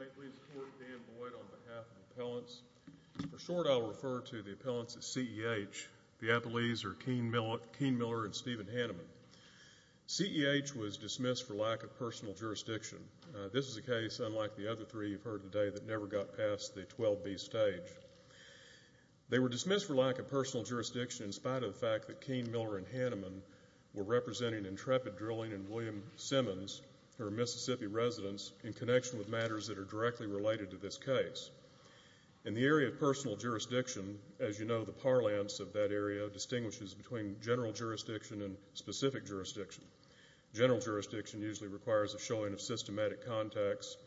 I'd like to support Dan Boyd on behalf of the appellants. For short, I'll refer to the appellants at CEH. The appellees are Keane Miller and Stephen Hanneman. CEH was dismissed for lack of personal jurisdiction. This is a case, unlike the other three you've heard today, that never got past the 12B stage. They were dismissed for lack of personal jurisdiction in spite of the fact that Keane Miller and Hanneman were representing Intrepid Drilling and William Simmons, who are Mississippi residents, in connection with matters that are directly related to this case. In the area of personal jurisdiction, as you know, the parlance of that area distinguishes between general jurisdiction and specific jurisdiction. General jurisdiction usually requires a showing of systematic context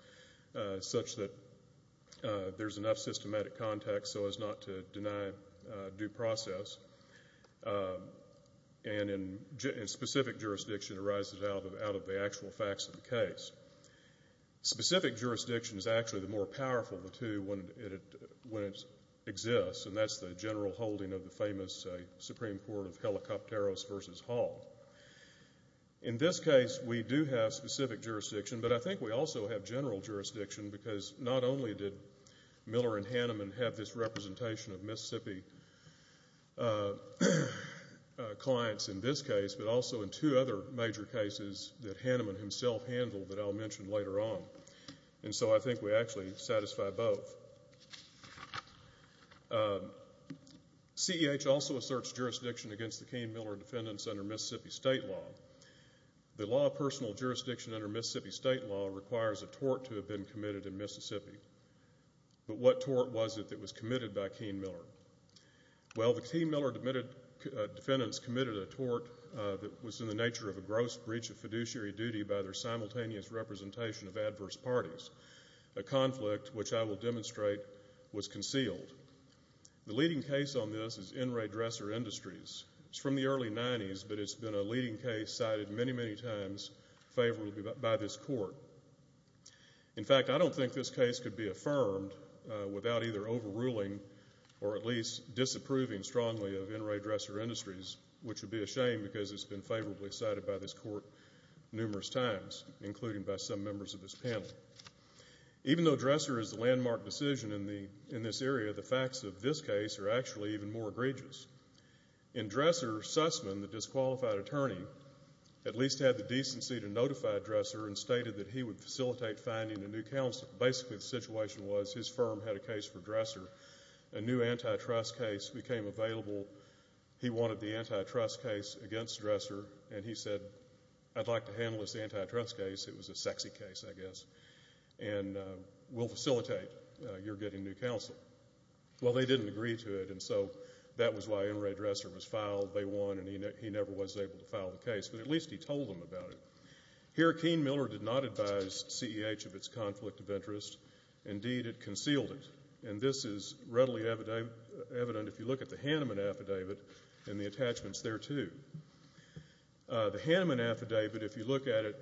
such that there's enough systematic context so as not to deny due process. And specific jurisdiction arises out of the actual facts of the case. Specific jurisdiction is actually the more powerful of the two when it exists, and that's the general holding of the famous Supreme Court of Helicopteros v. Hall. In this case, we do have specific jurisdiction, but I think we also have general jurisdiction because not only did Miller and Hanneman have this representation of Mississippi clients in this case, but also in two other major cases that Hanneman himself handled that I'll mention later on. And so I think we actually satisfy both. CEH also asserts jurisdiction against the Keane Miller defendants under Mississippi state law. The law of personal jurisdiction under Mississippi state law requires a tort to have been committed in Mississippi. But what tort was it that was committed by Keane Miller? Well, the Keane Miller defendants committed a tort that was in the nature of a gross breach of fiduciary duty by their simultaneous representation of adverse parties, a conflict which I will demonstrate was concealed. The leading case on this is NRA Dresser Industries. It's from the early 90s, but it's been a leading case cited many, many times favorably by this court. In fact, I don't think this case could be affirmed without either overruling or at least disapproving strongly of NRA Dresser Industries, which would be a shame because it's been favorably cited by this court numerous times, including by some members of this panel. Even though Dresser is the landmark decision in this area, the facts of this case are actually even more egregious. In Dresser, Sussman, the disqualified attorney, at least had the decency to notify Dresser and stated that he would facilitate finding a new counsel. Basically, the situation was his firm had a case for Dresser. A new antitrust case became available. He wanted the antitrust case against Dresser, and he said, I'd like to handle this antitrust case, it was a sexy case, I guess, and we'll facilitate your getting new counsel. Well, they didn't agree to it, and so that was why NRA Dresser was filed. They won, and he never was able to file the case, but at least he told them about it. Here, Keen-Miller did not advise CEH of its conflict of interest. Indeed, it concealed it, and this is readily evident if you look at the Hanneman affidavit and the attachments there, too. The Hanneman affidavit, if you look at it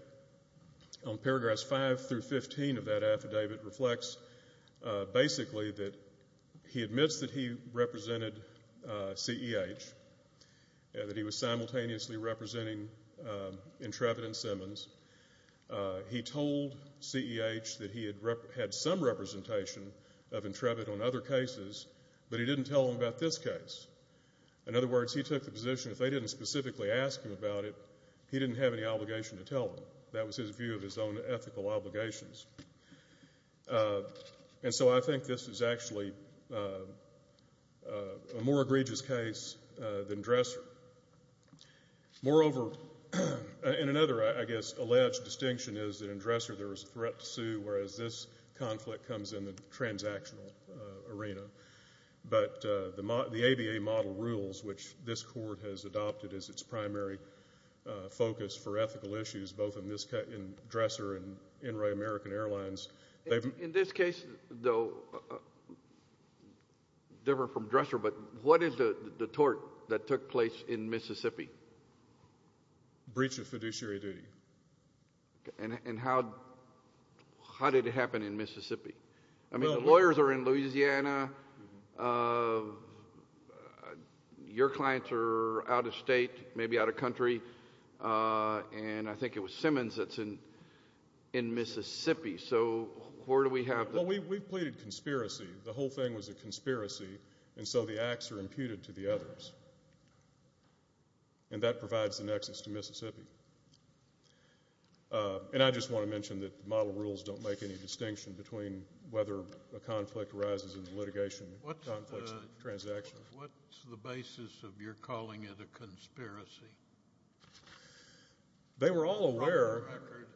on paragraphs 5 through 15 of that affidavit, reflects basically that he admits that he represented CEH, that he was simultaneously representing Intrebit and Simmons. He told CEH that he had some representation of Intrebit on other cases, but he didn't tell them about this case. In other words, he took the position if they didn't specifically ask him about it, he didn't have any obligation to tell them. That was his view of his own ethical obligations. And so I think this is actually a more egregious case than Dresser. Moreover, and another, I guess, alleged distinction is that in Dresser there was a threat to sue, whereas this conflict comes in the transactional arena. But the ABA model rules, which this court has adopted as its primary focus for ethical issues, both in Dresser and in Ray American Airlines... In this case, though, different from Dresser, but what is the tort that took place in Mississippi? Breach of fiduciary duty. And how did it happen in Mississippi? I mean the lawyers are in Louisiana. Your clients are out of state, maybe out of country. And I think it was Simmons that's in Mississippi. So where do we have the... Well, we've pleaded conspiracy. The whole thing was a conspiracy. And so the acts are imputed to the others. And that provides the nexus to Mississippi. And I just want to mention that the model rules don't make any distinction between whether a conflict arises in the litigation and conflicts in the transaction. What's the basis of your calling it a conspiracy? They were all aware... From the record,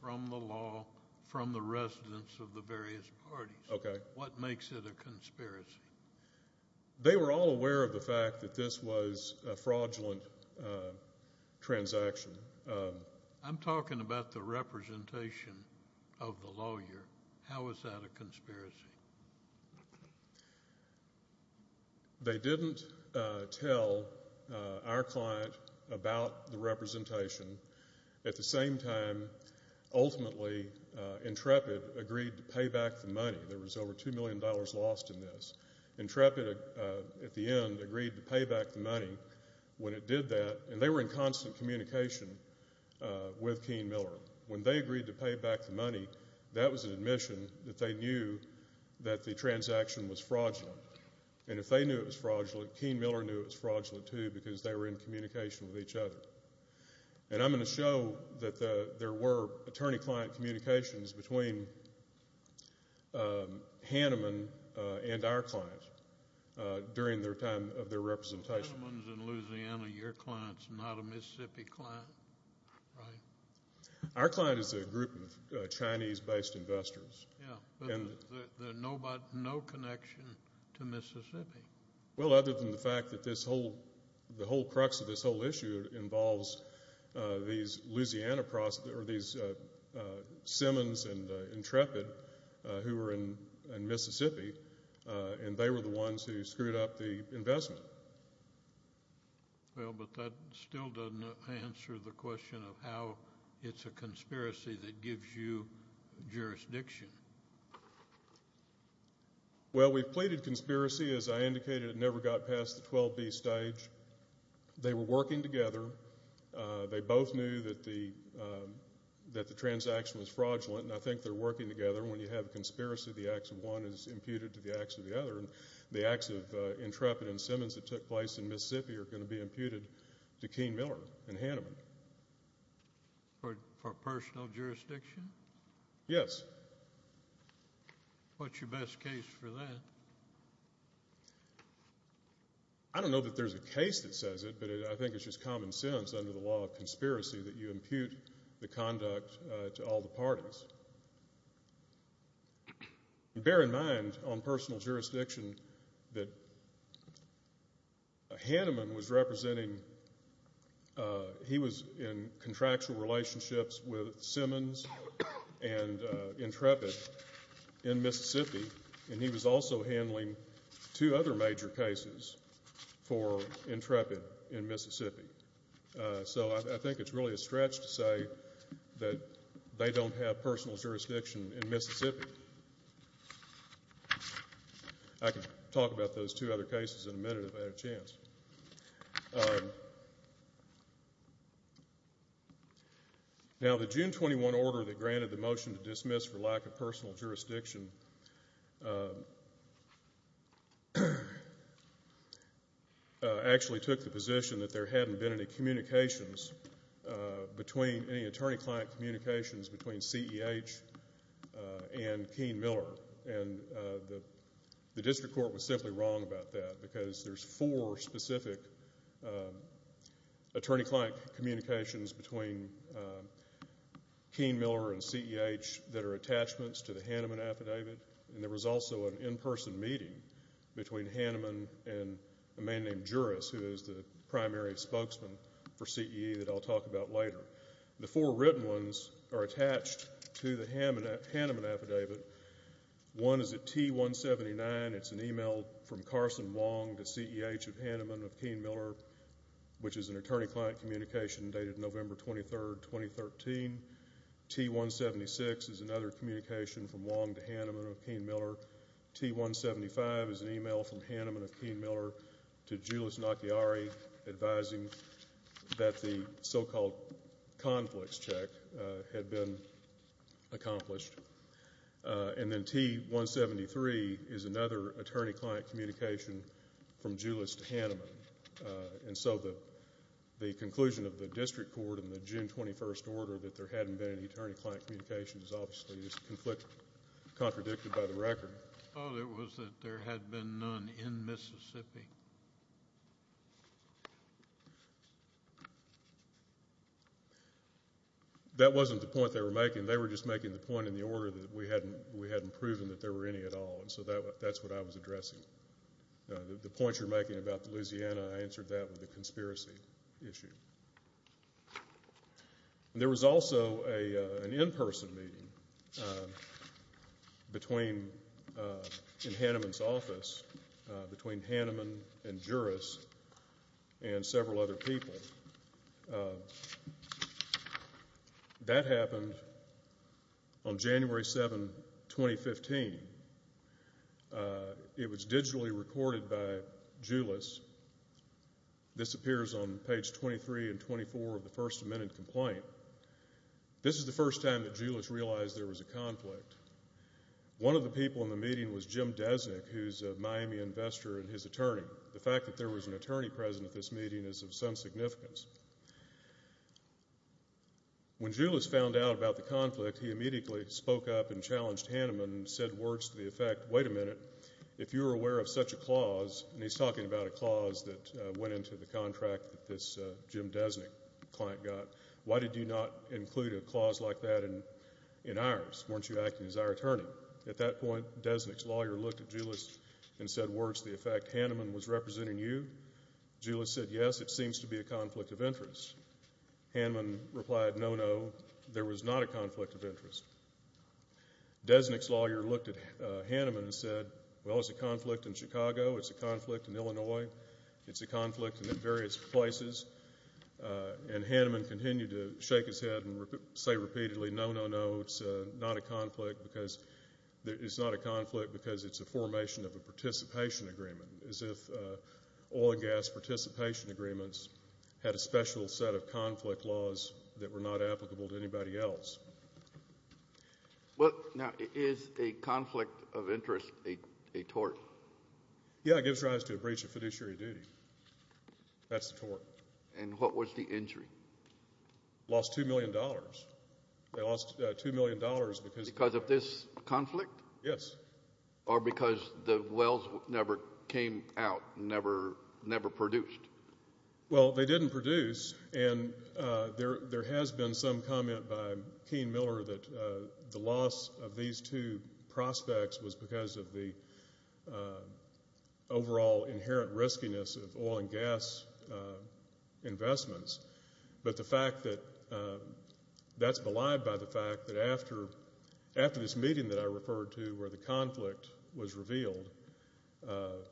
from the law, from the residents of the various parties. Okay. What makes it a conspiracy? They were all aware of the fact that this was a fraudulent transaction. I'm talking about the representation of the lawyer. How is that a conspiracy? They didn't tell our client about the representation. At the same time, ultimately, Intrepid agreed to pay back the money. There was over $2 million lost in this. Intrepid, at the end, agreed to pay back the money when it did that. And they were in constant communication with Keene Miller. When they agreed to pay back the money, that was an admission that they knew that the transaction was fraudulent. And if they knew it was fraudulent, Keene Miller knew it was fraudulent too because they were in communication with each other. And I'm going to show that there were attorney-client communications between Hanneman and our client during their time of their representation. Hanneman's in Louisiana. Your client's not a Mississippi client, right? Our client is a group of Chinese-based investors. Yeah, but there's no connection to Mississippi. Well, other than the fact that the whole crux of this whole issue involves these Simmons and Intrepid who were in Mississippi, and they were the ones who screwed up the investment. Well, but that still doesn't answer the question of how it's a conspiracy that gives you jurisdiction. Well, we've pleaded conspiracy. As I indicated, it never got past the 12B stage. They were working together. They both knew that the transaction was fraudulent, and I think they're working together. When you have a conspiracy, the acts of one is imputed to the acts of the other, and the acts of Intrepid and Simmons that took place in Mississippi are going to be imputed to Keene Miller and Hanneman. For personal jurisdiction? Yes. What's your best case for that? I don't know that there's a case that says it, but I think it's just common sense under the law of conspiracy that you impute the conduct to all the parties. Bear in mind, on personal jurisdiction, that Hanneman was representing he was in contractual relationships with Simmons and Intrepid in Mississippi, and he was also handling two other major cases for Intrepid in Mississippi. So I think it's really a stretch to say that they don't have personal jurisdiction in Mississippi. I can talk about those two other cases in a minute if I had a chance. Now, the June 21 order that granted the motion to dismiss for lack of personal jurisdiction actually took the position that there hadn't been any communications between any attorney-client communications between CEH and Keene Miller, and the district court was simply wrong about that because there's four specific attorney-client communications between Keene Miller and CEH that are attachments to the Hanneman affidavit, and there was also an in-person meeting between Hanneman and a man named Juris, who is the primary spokesman for CEH that I'll talk about later. The four written ones are attached to the Hanneman affidavit. One is at T179. It's an email from Carson Wong to CEH of Hanneman of Keene Miller, which is an attorney-client communication dated November 23, 2013. T176 is another communication from Wong to Hanneman of Keene Miller. T175 is an email from Hanneman of Keene Miller to Juris Nakiari advising that the so-called conflicts check had been accomplished. And then T173 is another attorney-client communication from Juris to Hanneman. And so the conclusion of the district court in the June 21st order that there hadn't been any attorney-client communications obviously is contradicted by the record. All it was that there had been none in Mississippi. That wasn't the point they were making. They were just making the point in the order that we hadn't proven that there were any at all, and so that's what I was addressing. The point you're making about the Louisiana, I answered that with a conspiracy issue. There was also an in-person meeting in Hanneman's office between Hanneman and Juris and several other people. That happened on January 7, 2015. It was digitally recorded by Juris. This appears on page 23 and 24 of the first amended complaint. This is the first time that Juris realized there was a conflict. One of the people in the meeting was Jim Desnik, who's a Miami investor and his attorney. The fact that there was an attorney present at this meeting is of some significance. When Juris found out about the conflict, he immediately spoke up and challenged Hanneman and said words to the effect, wait a minute, if you're aware of such a clause, and he's talking about a clause that went into the contract that this Jim Desnik client got, why did you not include a clause like that in ours? Weren't you acting as our attorney? At that point, Desnik's lawyer looked at Juris and said words to the effect, Hanneman was representing you? Juris said, yes, it seems to be a conflict of interest. Hanneman replied, no, no, there was not a conflict of interest. Desnik's lawyer looked at Hanneman and said, well, it's a conflict in Chicago, it's a conflict in Illinois, it's a conflict in various places, and Hanneman continued to shake his head and say repeatedly, no, no, no, it's not a conflict because it's a formation of a participation agreement, as if oil and gas participation agreements had a special set of conflict laws that were not applicable to anybody else. Now, is a conflict of interest a tort? Yes, it gives rise to a breach of fiduciary duty. That's a tort. And what was the injury? Lost $2 million. They lost $2 million because of this conflict? Yes. Or because the wells never came out, never produced? Well, they didn't produce, and there has been some comment by Keene Miller that the loss of these two prospects was because of the overall inherent riskiness of oil and gas investments. But the fact that that's belied by the fact that after this meeting that I referred to where the conflict was revealed,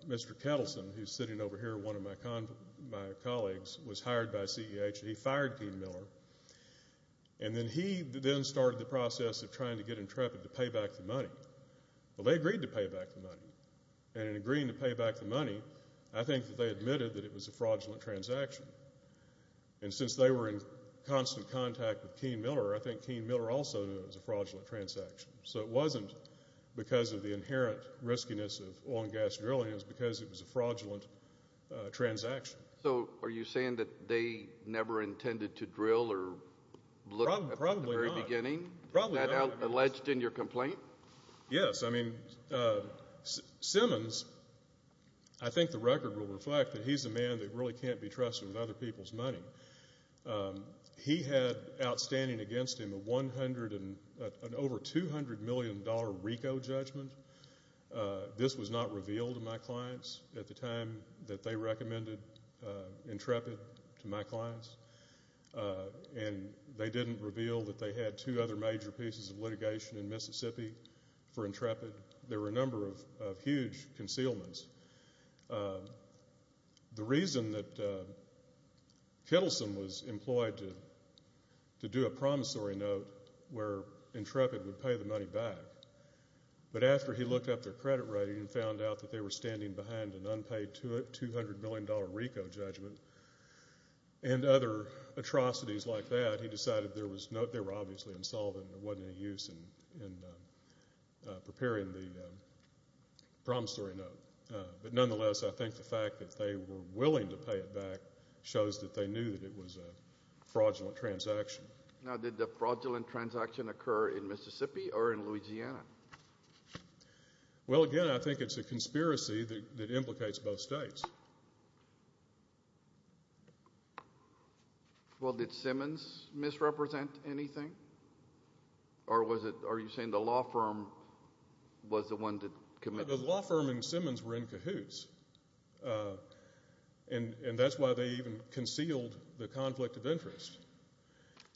Mr. Kettleson, who's sitting over here, one of my colleagues, was hired by CEH, and he fired Keene Miller. And then he then started the process of trying to get Intrepid to pay back the money. Well, they agreed to pay back the money. And in agreeing to pay back the money, I think that they admitted that it was a fraudulent transaction. And since they were in constant contact with Keene Miller, I think Keene Miller also knew it was a fraudulent transaction. So it wasn't because of the inherent riskiness of oil and gas drilling. It was because it was a fraudulent transaction. So are you saying that they never intended to drill or look at the very beginning? Probably not. Is that alleged in your complaint? Yes. I mean, Simmons, I think the record will reflect that he's a man that really can't be trusted with other people's money. He had outstanding against him an over $200 million RICO judgment. This was not revealed to my clients at the time that they recommended Intrepid to my clients. And they didn't reveal that they had two other major pieces of litigation in Mississippi for Intrepid. There were a number of huge concealments. The reason that Kittleson was employed to do a promissory note where Intrepid would pay the money back, but after he looked up their credit rating and found out that they were standing behind an unpaid $200 million RICO judgment and other atrocities like that, he decided there were obviously insolvent and there wasn't any use in preparing the promissory note. But nonetheless, I think the fact that they were willing to pay it back shows that they knew that it was a fraudulent transaction. Now, did the fraudulent transaction occur in Mississippi or in Louisiana? Well, again, I think it's a conspiracy that implicates both states. Well, did Simmons misrepresent anything? Or are you saying the law firm was the one that committed it? The law firm and Simmons were in cahoots, and that's why they even concealed the conflict of interest.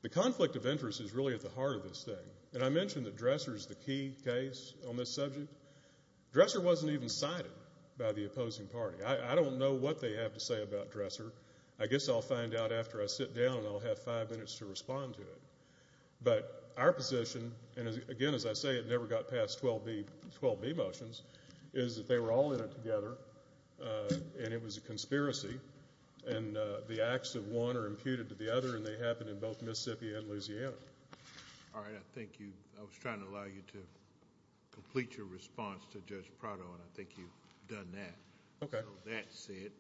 The conflict of interest is really at the heart of this thing. And I mentioned that Dresser is the key case on this subject. Dresser wasn't even cited by the opposing party. I don't know what they have to say about Dresser. I guess I'll find out after I sit down, and I'll have five minutes to respond to it. But our position, and again, as I say, it never got past 12b motions, is that they were all in it together, and it was a conspiracy, and the acts of one are imputed to the other, and they happened in both Mississippi and Louisiana. All right. I was trying to allow you to complete your response to Judge Prado, and I think you've done that. Okay. So that said,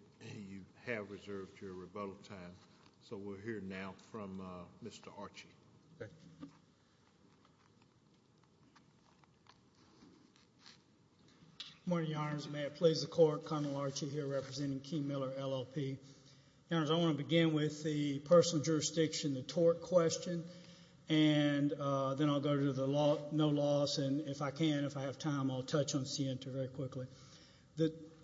you have reserved your rebuttal time. So we'll hear now from Mr. Archie. Okay. Good morning, Your Honors. May it please the Court, Colonel Archie here representing King Miller, LLP. Your Honors, I want to begin with the personal jurisdiction, the tort question, and then I'll go to the no loss. And if I can, if I have time, I'll touch on CN2 very quickly.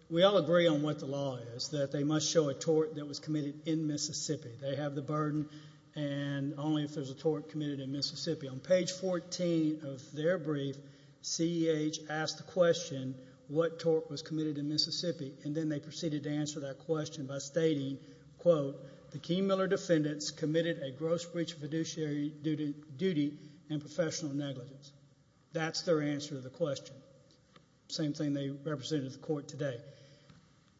We all agree on what the law is, that they must show a tort that was committed in Mississippi. They have the burden, and only if there's a tort committed in Mississippi. On page 14 of their brief, CEH asked the question, what tort was committed in Mississippi, and then they proceeded to answer that question by stating, quote, the King Miller defendants committed a gross breach of fiduciary duty and professional negligence. That's their answer to the question. Same thing they represented to the Court today.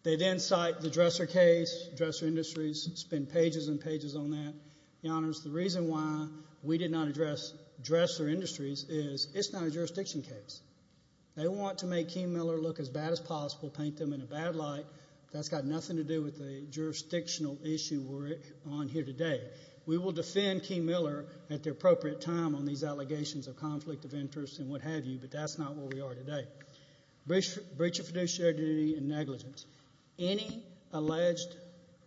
They then cite the Dresser case, Dresser Industries, spend pages and pages on that. Your Honors, the reason why we did not address Dresser Industries is it's not a jurisdiction case. They want to make King Miller look as bad as possible, paint them in a bad light. That's got nothing to do with the jurisdictional issue we're on here today. We will defend King Miller at the appropriate time on these allegations of conflict of interest and what have you, but that's not where we are today. Breach of fiduciary duty and negligence. Any alleged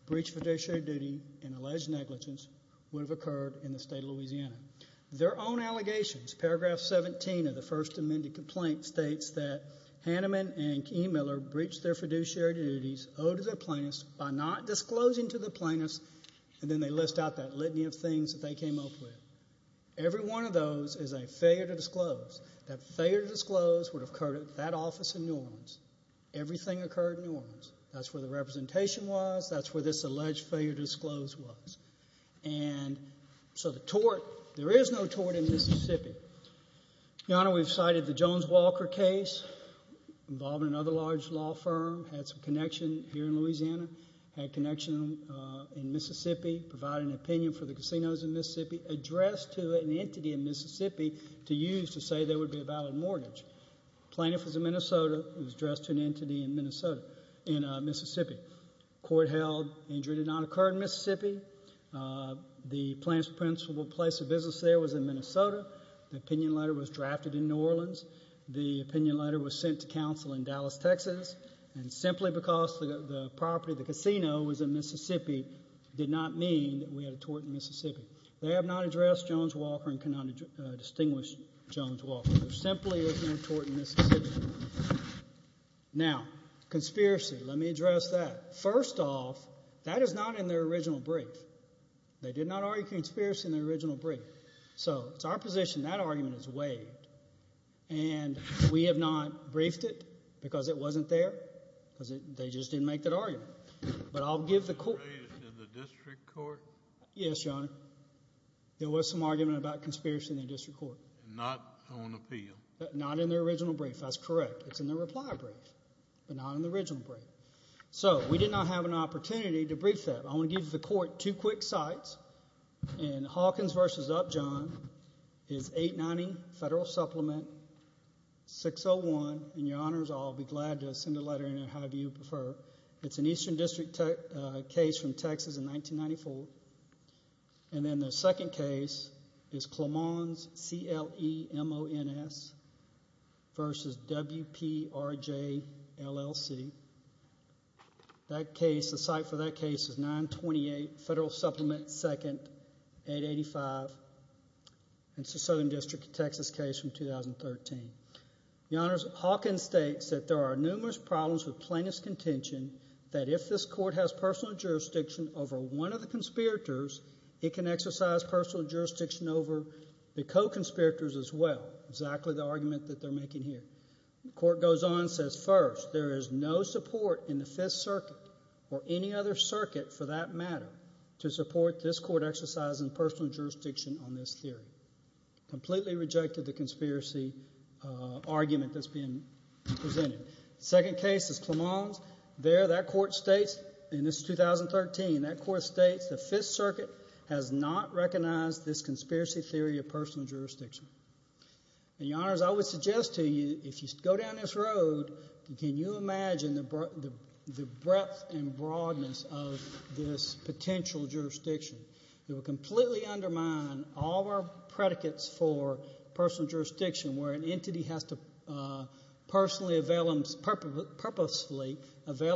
breach of fiduciary duty and alleged negligence would have occurred in the state of Louisiana. Their own allegations, paragraph 17 of the First Amendment complaint, states that Hanneman and King Miller breached their fiduciary duties owed to their plaintiffs by not disclosing to the plaintiffs, and then they list out that litany of things that they came up with. Every one of those is a failure to disclose. That failure to disclose would have occurred at that office in New Orleans. Everything occurred in New Orleans. That's where the representation was. That's where this alleged failure to disclose was. And so the tort, there is no tort in Mississippi. Your Honor, we've cited the Jones-Walker case involving another large law firm. Had some connection here in Louisiana. Had connection in Mississippi. Provided an opinion for the casinos in Mississippi. Addressed to an entity in Mississippi to use to say there would be a valid mortgage. Plaintiff was in Minnesota. It was addressed to an entity in Mississippi. Court held injury did not occur in Mississippi. The plaintiff's principal place of business there was in Minnesota. The opinion letter was drafted in New Orleans. The opinion letter was sent to counsel in Dallas, Texas, and simply because the property, the casino, was in Mississippi did not mean that we had a tort in Mississippi. They have not addressed Jones-Walker and cannot distinguish Jones-Walker. There simply is no tort in Mississippi. Now, conspiracy. Let me address that. First off, that is not in their original brief. They did not argue conspiracy in their original brief. So it's our position that argument is waived, and we have not briefed it because it wasn't there, because they just didn't make that argument. But I'll give the court. Is it in the district court? Yes, Your Honor. There was some argument about conspiracy in the district court. Not on appeal? Not in their original brief. That's correct. It's in their reply brief, but not in the original brief. So we did not have an opportunity to brief that. I want to give the court two quick sites. And Hawkins v. Upjohn is 890 Federal Supplement 601. And, Your Honors, I'll be glad to send a letter in there however you prefer. It's an Eastern District case from Texas in 1994. And then the second case is Clemons, C-L-E-M-O-N-S, v. W-P-R-J-L-L-C. The site for that case is 928 Federal Supplement 2nd, 885. It's a Southern District of Texas case from 2013. Your Honors, Hawkins states that there are numerous problems with plaintiff's contention that if this court has personal jurisdiction over one of the conspirators, it can exercise personal jurisdiction over the co-conspirators as well. Exactly the argument that they're making here. The court goes on and says, First, there is no support in the Fifth Circuit or any other circuit for that matter to support this court exercising personal jurisdiction on this theory. Completely rejected the conspiracy argument that's being presented. The second case is Clemons. There, that court states, and this is 2013, that court states the Fifth Circuit has not recognized this conspiracy theory of personal jurisdiction. And, Your Honors, I would suggest to you if you go down this road, can you imagine the breadth and broadness of this potential jurisdiction? It would completely undermine all of our predicates for personal jurisdiction where an entity has to purposefully avail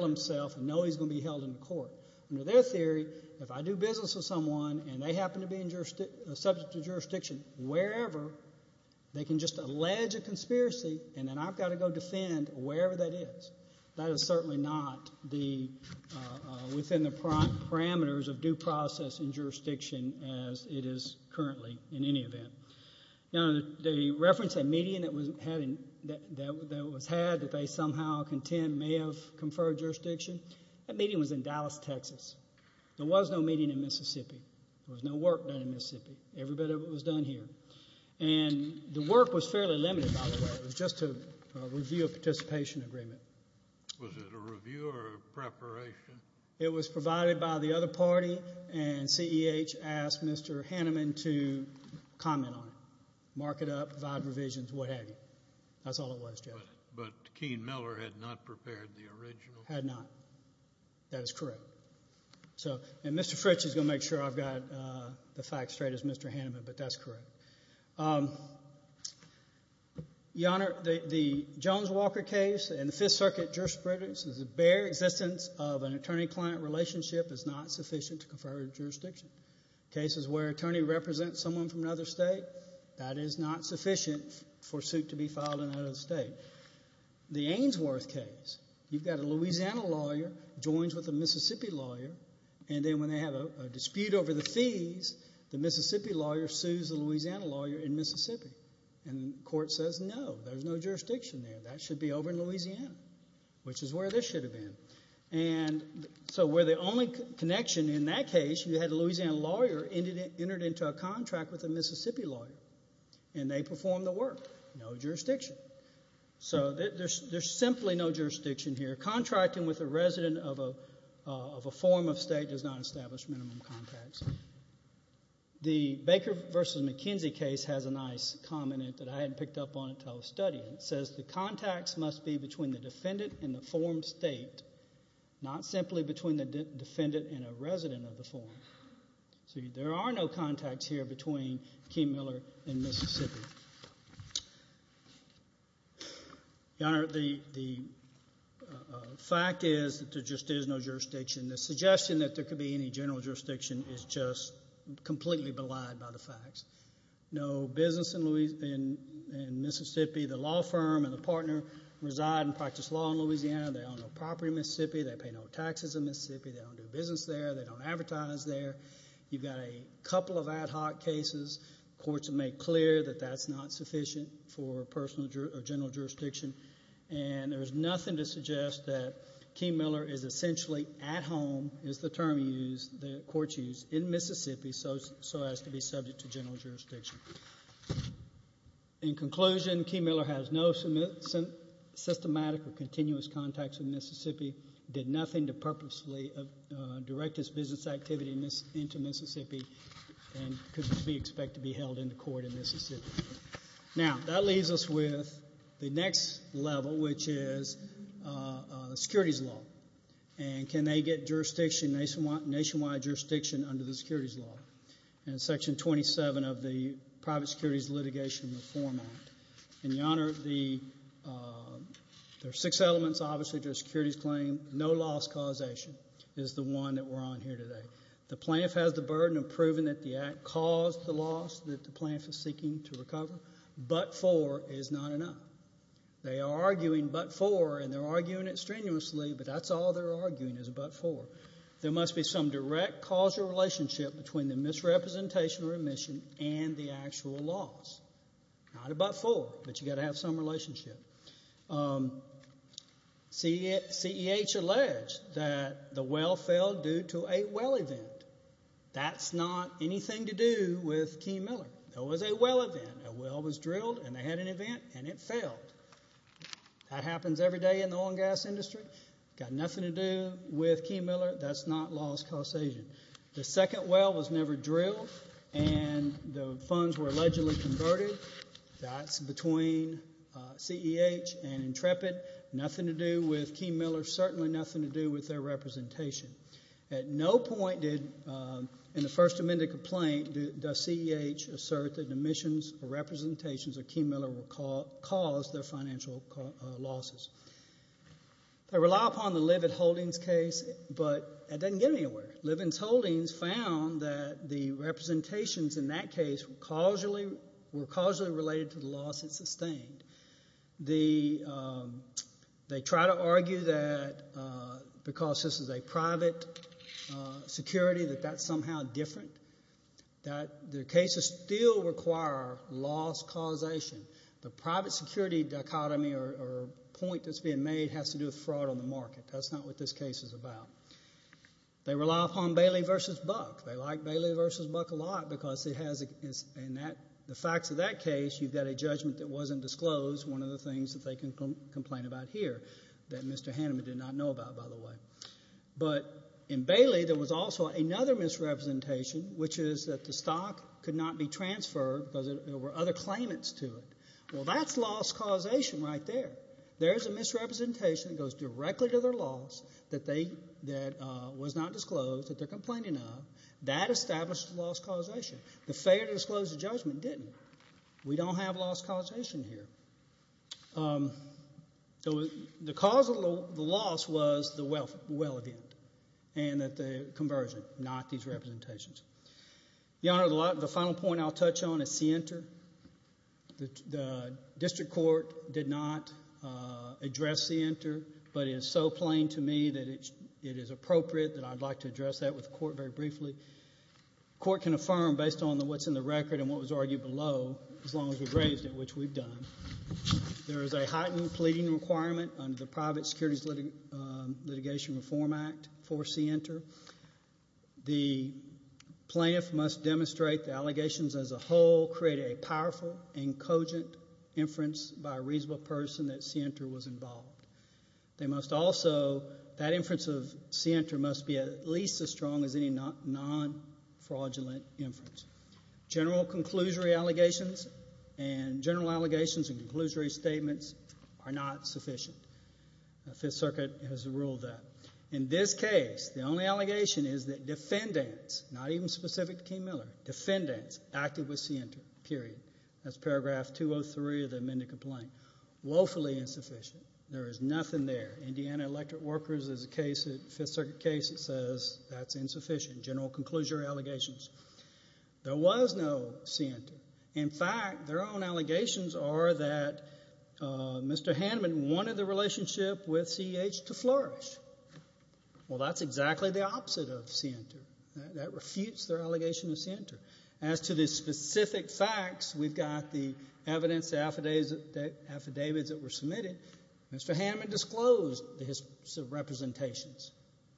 himself and know he's going to be held in court. Under their theory, if I do business with someone and they happen to be subject to jurisdiction wherever, they can just allege a conspiracy and then I've got to go defend wherever that is. That is certainly not within the parameters of due process in jurisdiction as it is currently in any event. Now, the reference that median that was had that they somehow contend may have conferred jurisdiction, that median was in Dallas, Texas. There was no median in Mississippi. There was no work done in Mississippi. Every bit of it was done here. And the work was fairly limited, by the way. It was just a review of participation agreement. Was it a review or a preparation? It was provided by the other party, and CEH asked Mr. Hanneman to comment on it, mark it up, provide revisions, what have you. That's all it was, Judge. But Keene Miller had not prepared the original? Had not. That is correct. And Mr. Fritch is going to make sure I've got the facts straight as Mr. Hanneman, but that's correct. Your Honor, the Jones-Walker case in the Fifth Circuit jurisprudence is the bare existence of an attorney-client relationship is not sufficient to confer jurisdiction. Cases where an attorney represents someone from another state, that is not sufficient for a suit to be filed in another state. The Ainsworth case, you've got a Louisiana lawyer joins with a Mississippi lawyer, and then when they have a dispute over the fees, the Mississippi lawyer sues the Louisiana lawyer in Mississippi, and the court says no, there's no jurisdiction there. That should be over in Louisiana, which is where this should have been. And so where the only connection in that case, you had a Louisiana lawyer entered into a contract with a Mississippi lawyer, and they performed the work, no jurisdiction. So there's simply no jurisdiction here. Contracting with a resident of a form of state does not establish minimum contacts. The Baker v. McKenzie case has a nice comment that I hadn't picked up on until I was studying. It says the contacts must be between the defendant and the form state, not simply between the defendant and a resident of the form. So there are no contacts here between Kim Miller and Mississippi. Thank you. Your Honor, the fact is that there just is no jurisdiction. The suggestion that there could be any general jurisdiction is just completely belied by the facts. No business in Mississippi. The law firm and the partner reside and practice law in Louisiana. They own no property in Mississippi. They pay no taxes in Mississippi. They don't do business there. They don't advertise there. You've got a couple of ad hoc cases. Courts have made clear that that's not sufficient for personal or general jurisdiction. And there's nothing to suggest that Kim Miller is essentially at home, is the term used, the court used, in Mississippi so as to be subject to general jurisdiction. In conclusion, Kim Miller has no systematic or continuous contacts in Mississippi, did nothing to purposely direct his business activity into Mississippi, and could be expected to be held in the court in Mississippi. Now, that leaves us with the next level, which is securities law. And can they get jurisdiction, nationwide jurisdiction, under the securities law? In Section 27 of the Private Securities Litigation Reform Act. And, Your Honor, there are six elements, obviously, to a securities claim. No-loss causation is the one that we're on here today. The plaintiff has the burden of proving that the act caused the loss that the plaintiff is seeking to recover. But-for is not enough. They are arguing but-for, and they're arguing it strenuously, but that's all they're arguing is a but-for. There must be some direct causal relationship between the misrepresentation or omission and the actual loss. Not a but-for, but you've got to have some relationship. CEH alleged that the well failed due to a well event. That's not anything to do with Key Miller. It was a well event. A well was drilled, and they had an event, and it failed. That happens every day in the oil and gas industry. Got nothing to do with Key Miller. That's not loss causation. The second well was never drilled, and the funds were allegedly converted. That's between CEH and Intrepid. Nothing to do with Key Miller. Certainly nothing to do with their representation. At no point did-in the First Amendment complaint does CEH assert that omissions or representations of Key Miller caused their financial losses. They rely upon the Livins-Holdings case, but that doesn't get anywhere. Livins-Holdings found that the representations in that case were causally related to the loss it sustained. They try to argue that because this is a private security that that's somehow different. Their cases still require loss causation. The private security dichotomy or point that's being made has to do with fraud on the market. That's not what this case is about. They rely upon Bailey v. Buck. They like Bailey v. Buck a lot because it has-in the facts of that case, you've got a judgment that wasn't disclosed, one of the things that they can complain about here that Mr. Hanneman did not know about, by the way. But in Bailey, there was also another misrepresentation, which is that the stock could not be transferred because there were other claimants to it. Well, that's loss causation right there. There is a misrepresentation that goes directly to their loss that was not disclosed that they're complaining of. That establishes loss causation. The failure to disclose the judgment didn't. We don't have loss causation here. The cause of the loss was the well event and the conversion, not these representations. Your Honor, the final point I'll touch on is Sienter. The district court did not address Sienter, but it is so plain to me that it is appropriate that I'd like to address that with the court very briefly. The court can affirm based on what's in the record and what was argued below as long as we've raised it, which we've done. There is a heightened pleading requirement under the Private Securities Litigation Reform Act for Sienter. The plaintiff must demonstrate the allegations as a whole created a powerful and cogent inference by a reasonable person that Sienter was involved. They must also, that inference of Sienter must be at least as strong as any non-fraudulent inference. General conclusory allegations and general allegations and conclusory statements are not sufficient. The Fifth Circuit has ruled that. In this case, the only allegation is that defendants, not even specific to King-Miller, defendants acted with Sienter, period. That's paragraph 203 of the amended complaint. Woefully insufficient. There is nothing there. Indiana Electric Workers is a case, a Fifth Circuit case that says that's insufficient. General conclusory allegations. There was no Sienter. In fact, their own allegations are that Mr. Haneman wanted the relationship with CEH to flourish. Well, that's exactly the opposite of Sienter. That refutes their allegation of Sienter. As to the specific facts, we've got the evidence affidavits that were submitted. Mr. Haneman disclosed his representations.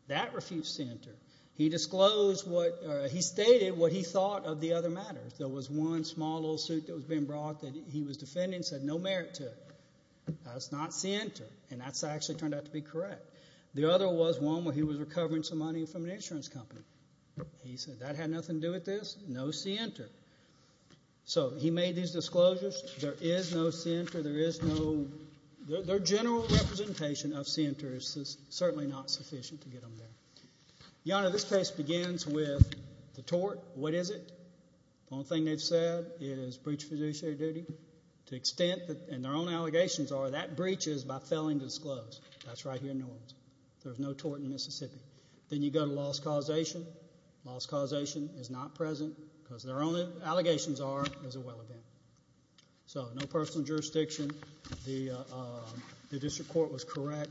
That refutes Sienter. He disclosed what he stated what he thought of the other matters. There was one small lawsuit that was being brought that he was defending and said no merit to it. That's not Sienter, and that's actually turned out to be correct. The other was one where he was recovering some money from an insurance company. He said that had nothing to do with this. No Sienter. So he made these disclosures. There is no Sienter. There is noótheir general representation of Sienter is certainly not sufficient to get them there. Your Honor, this case begins with the tort. What is it? The only thing they've said is breach of fiduciary duty. To the extent thatóand their own allegations are that breach is by failing to disclose. That's right here in New Orleans. There is no tort in Mississippi. Then you go to loss causation. Loss causation is not present because their own allegations are it was a well event. So no personal jurisdiction. The district court was correct.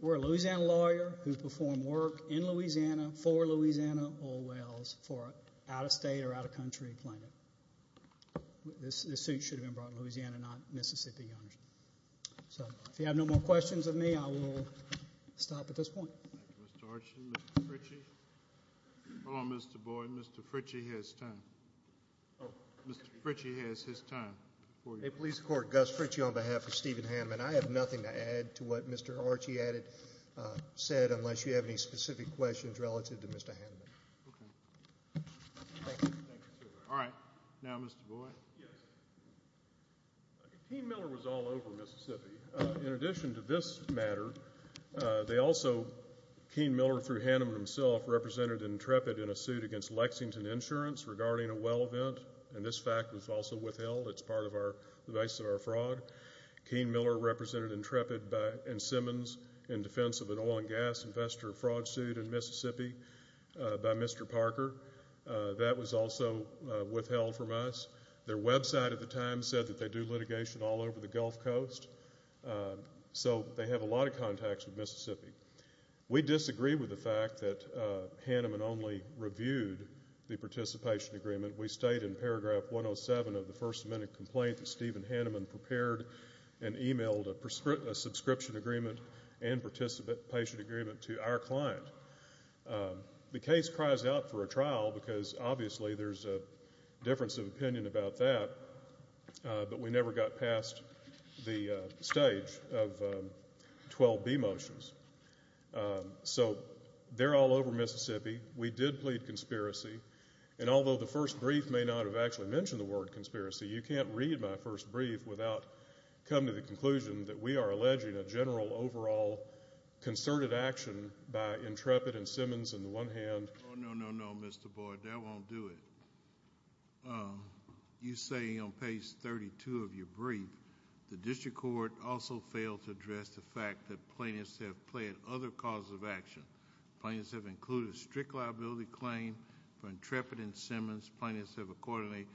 We're a Louisiana lawyer who performed work in Louisiana for Louisiana oil wells for an out-of-state or out-of-country plaintiff. This suit should have been brought in Louisiana, not Mississippi, Your Honor. So if you have no more questions of me, I will stop at this point. Thank you, Mr. Archam. Mr. Fritchie? Hold on, Mr. Boyd. Mr. Fritchie has time. Mr. Fritchie has his time. Hey, police court. Gus Fritchie on behalf of Stephen Hanneman. I have nothing to add to what Mr. Archie addedósaidóunless you have any specific questions relative to Mr. Hanneman. Thank you. Thank you, sir. All right. Now, Mr. Boyd. Yes. Keene Miller was all over Mississippi. In addition to this matter, they alsoóKeene Miller through Hanneman himselfórepresented Intrepid in a suit against Lexington Insurance regarding a well event, and this fact was also withheld. It's part of ouróthe basis of our fraud. Keene Miller represented Intrepid and Simmons in defense of an oil and gas investor fraud suit in Mississippi by Mr. Parker. That was also withheld from us. Their website at the time said that they do litigation all over the Gulf Coast, so they have a lot of contacts with Mississippi. We disagree with the fact that Hanneman only reviewed the participation agreement. We state in paragraph 107 of the First Amendment complaint that Stephen Hanneman prepared and emailed a subscription agreement and participation agreement to our client. The case cries out for a trial because, obviously, there's a difference of opinion about that, but we never got past the stage of 12B motions. So they're all over Mississippi. We did plead conspiracy. And although the first brief may not have actually mentioned the word conspiracy, you can't read my first brief without coming to the conclusion that we are alleging a general, overall concerted action by Intrepid and Simmons on the one handó Oh, no, no, no, Mr. Boyd. That won't do it. You say on page 32 of your brief, the district court also failed to address the fact that plaintiffs have pled other causes of action. Plaintiffs have included a strict liability claim for Intrepid and Simmons. Plaintiffs have accordingly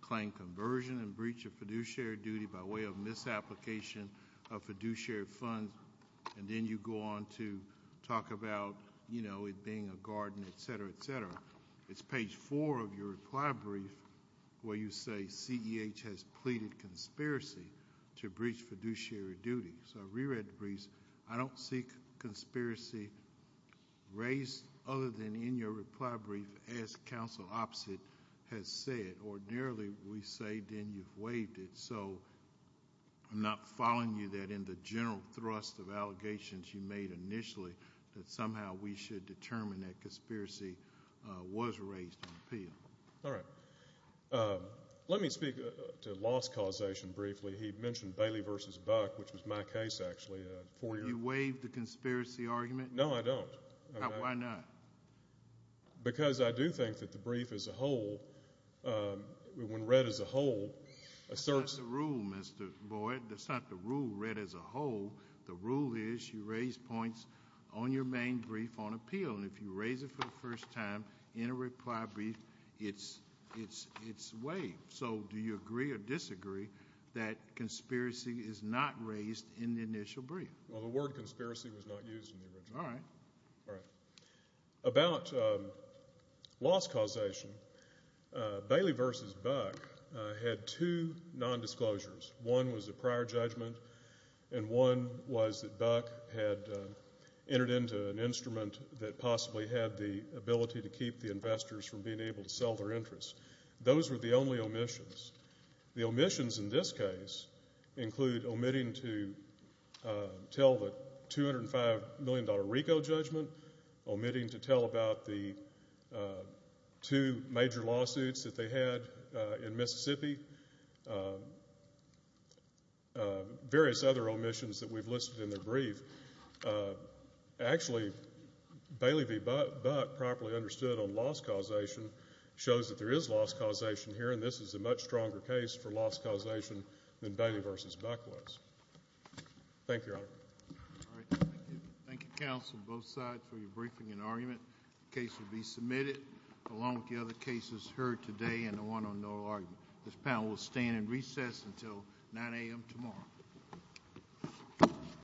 claimed conversion and breach of fiduciary duty by way of misapplication of fiduciary funds. And then you go on to talk about it being a garden, et cetera, et cetera. It's page 4 of your reply brief where you say CEH has pleaded conspiracy to breach fiduciary duty. So I reread the briefs. I don't see conspiracy raised other than in your reply brief as counsel opposite has said. Ordinarily, we say then you've waived it. So I'm not following you that in the general thrust of allegations you made initially that somehow we should determine that conspiracy was raised in appeal. All right. Let me speak to loss causation briefly. He mentioned Bailey v. Buck, which was my case, actually. You waived the conspiracy argument? No, I don't. Why not? Because I do think that the brief as a whole, when read as a whole, asserts. That's not the rule, Mr. Boyd. That's not the rule read as a whole. The rule is you raise points on your main brief on appeal. And if you raise it for the first time in a reply brief, it's waived. So do you agree or disagree that conspiracy is not raised in the initial brief? Well, the word conspiracy was not used in the original. All right. All right. About loss causation, Bailey v. Buck had two nondisclosures. One was a prior judgment, and one was that Buck had entered into an instrument that possibly had the ability to keep the investors from being able to sell their interests. Those were the only omissions. The omissions in this case include omitting to tell the $205 million RICO judgment, omitting to tell about the two major lawsuits that they had in Mississippi, various other omissions that we've listed in the brief. Actually, Bailey v. Buck, properly understood on loss causation, shows that there is loss causation here, and this is a much stronger case for loss causation than Bailey v. Buck was. Thank you, Your Honor. All right. Thank you. Thank you, counsel, both sides, for your briefing and argument. The case will be submitted along with the other cases heard today and the one on no argument. This panel will stand in recess until 9 a.m. tomorrow.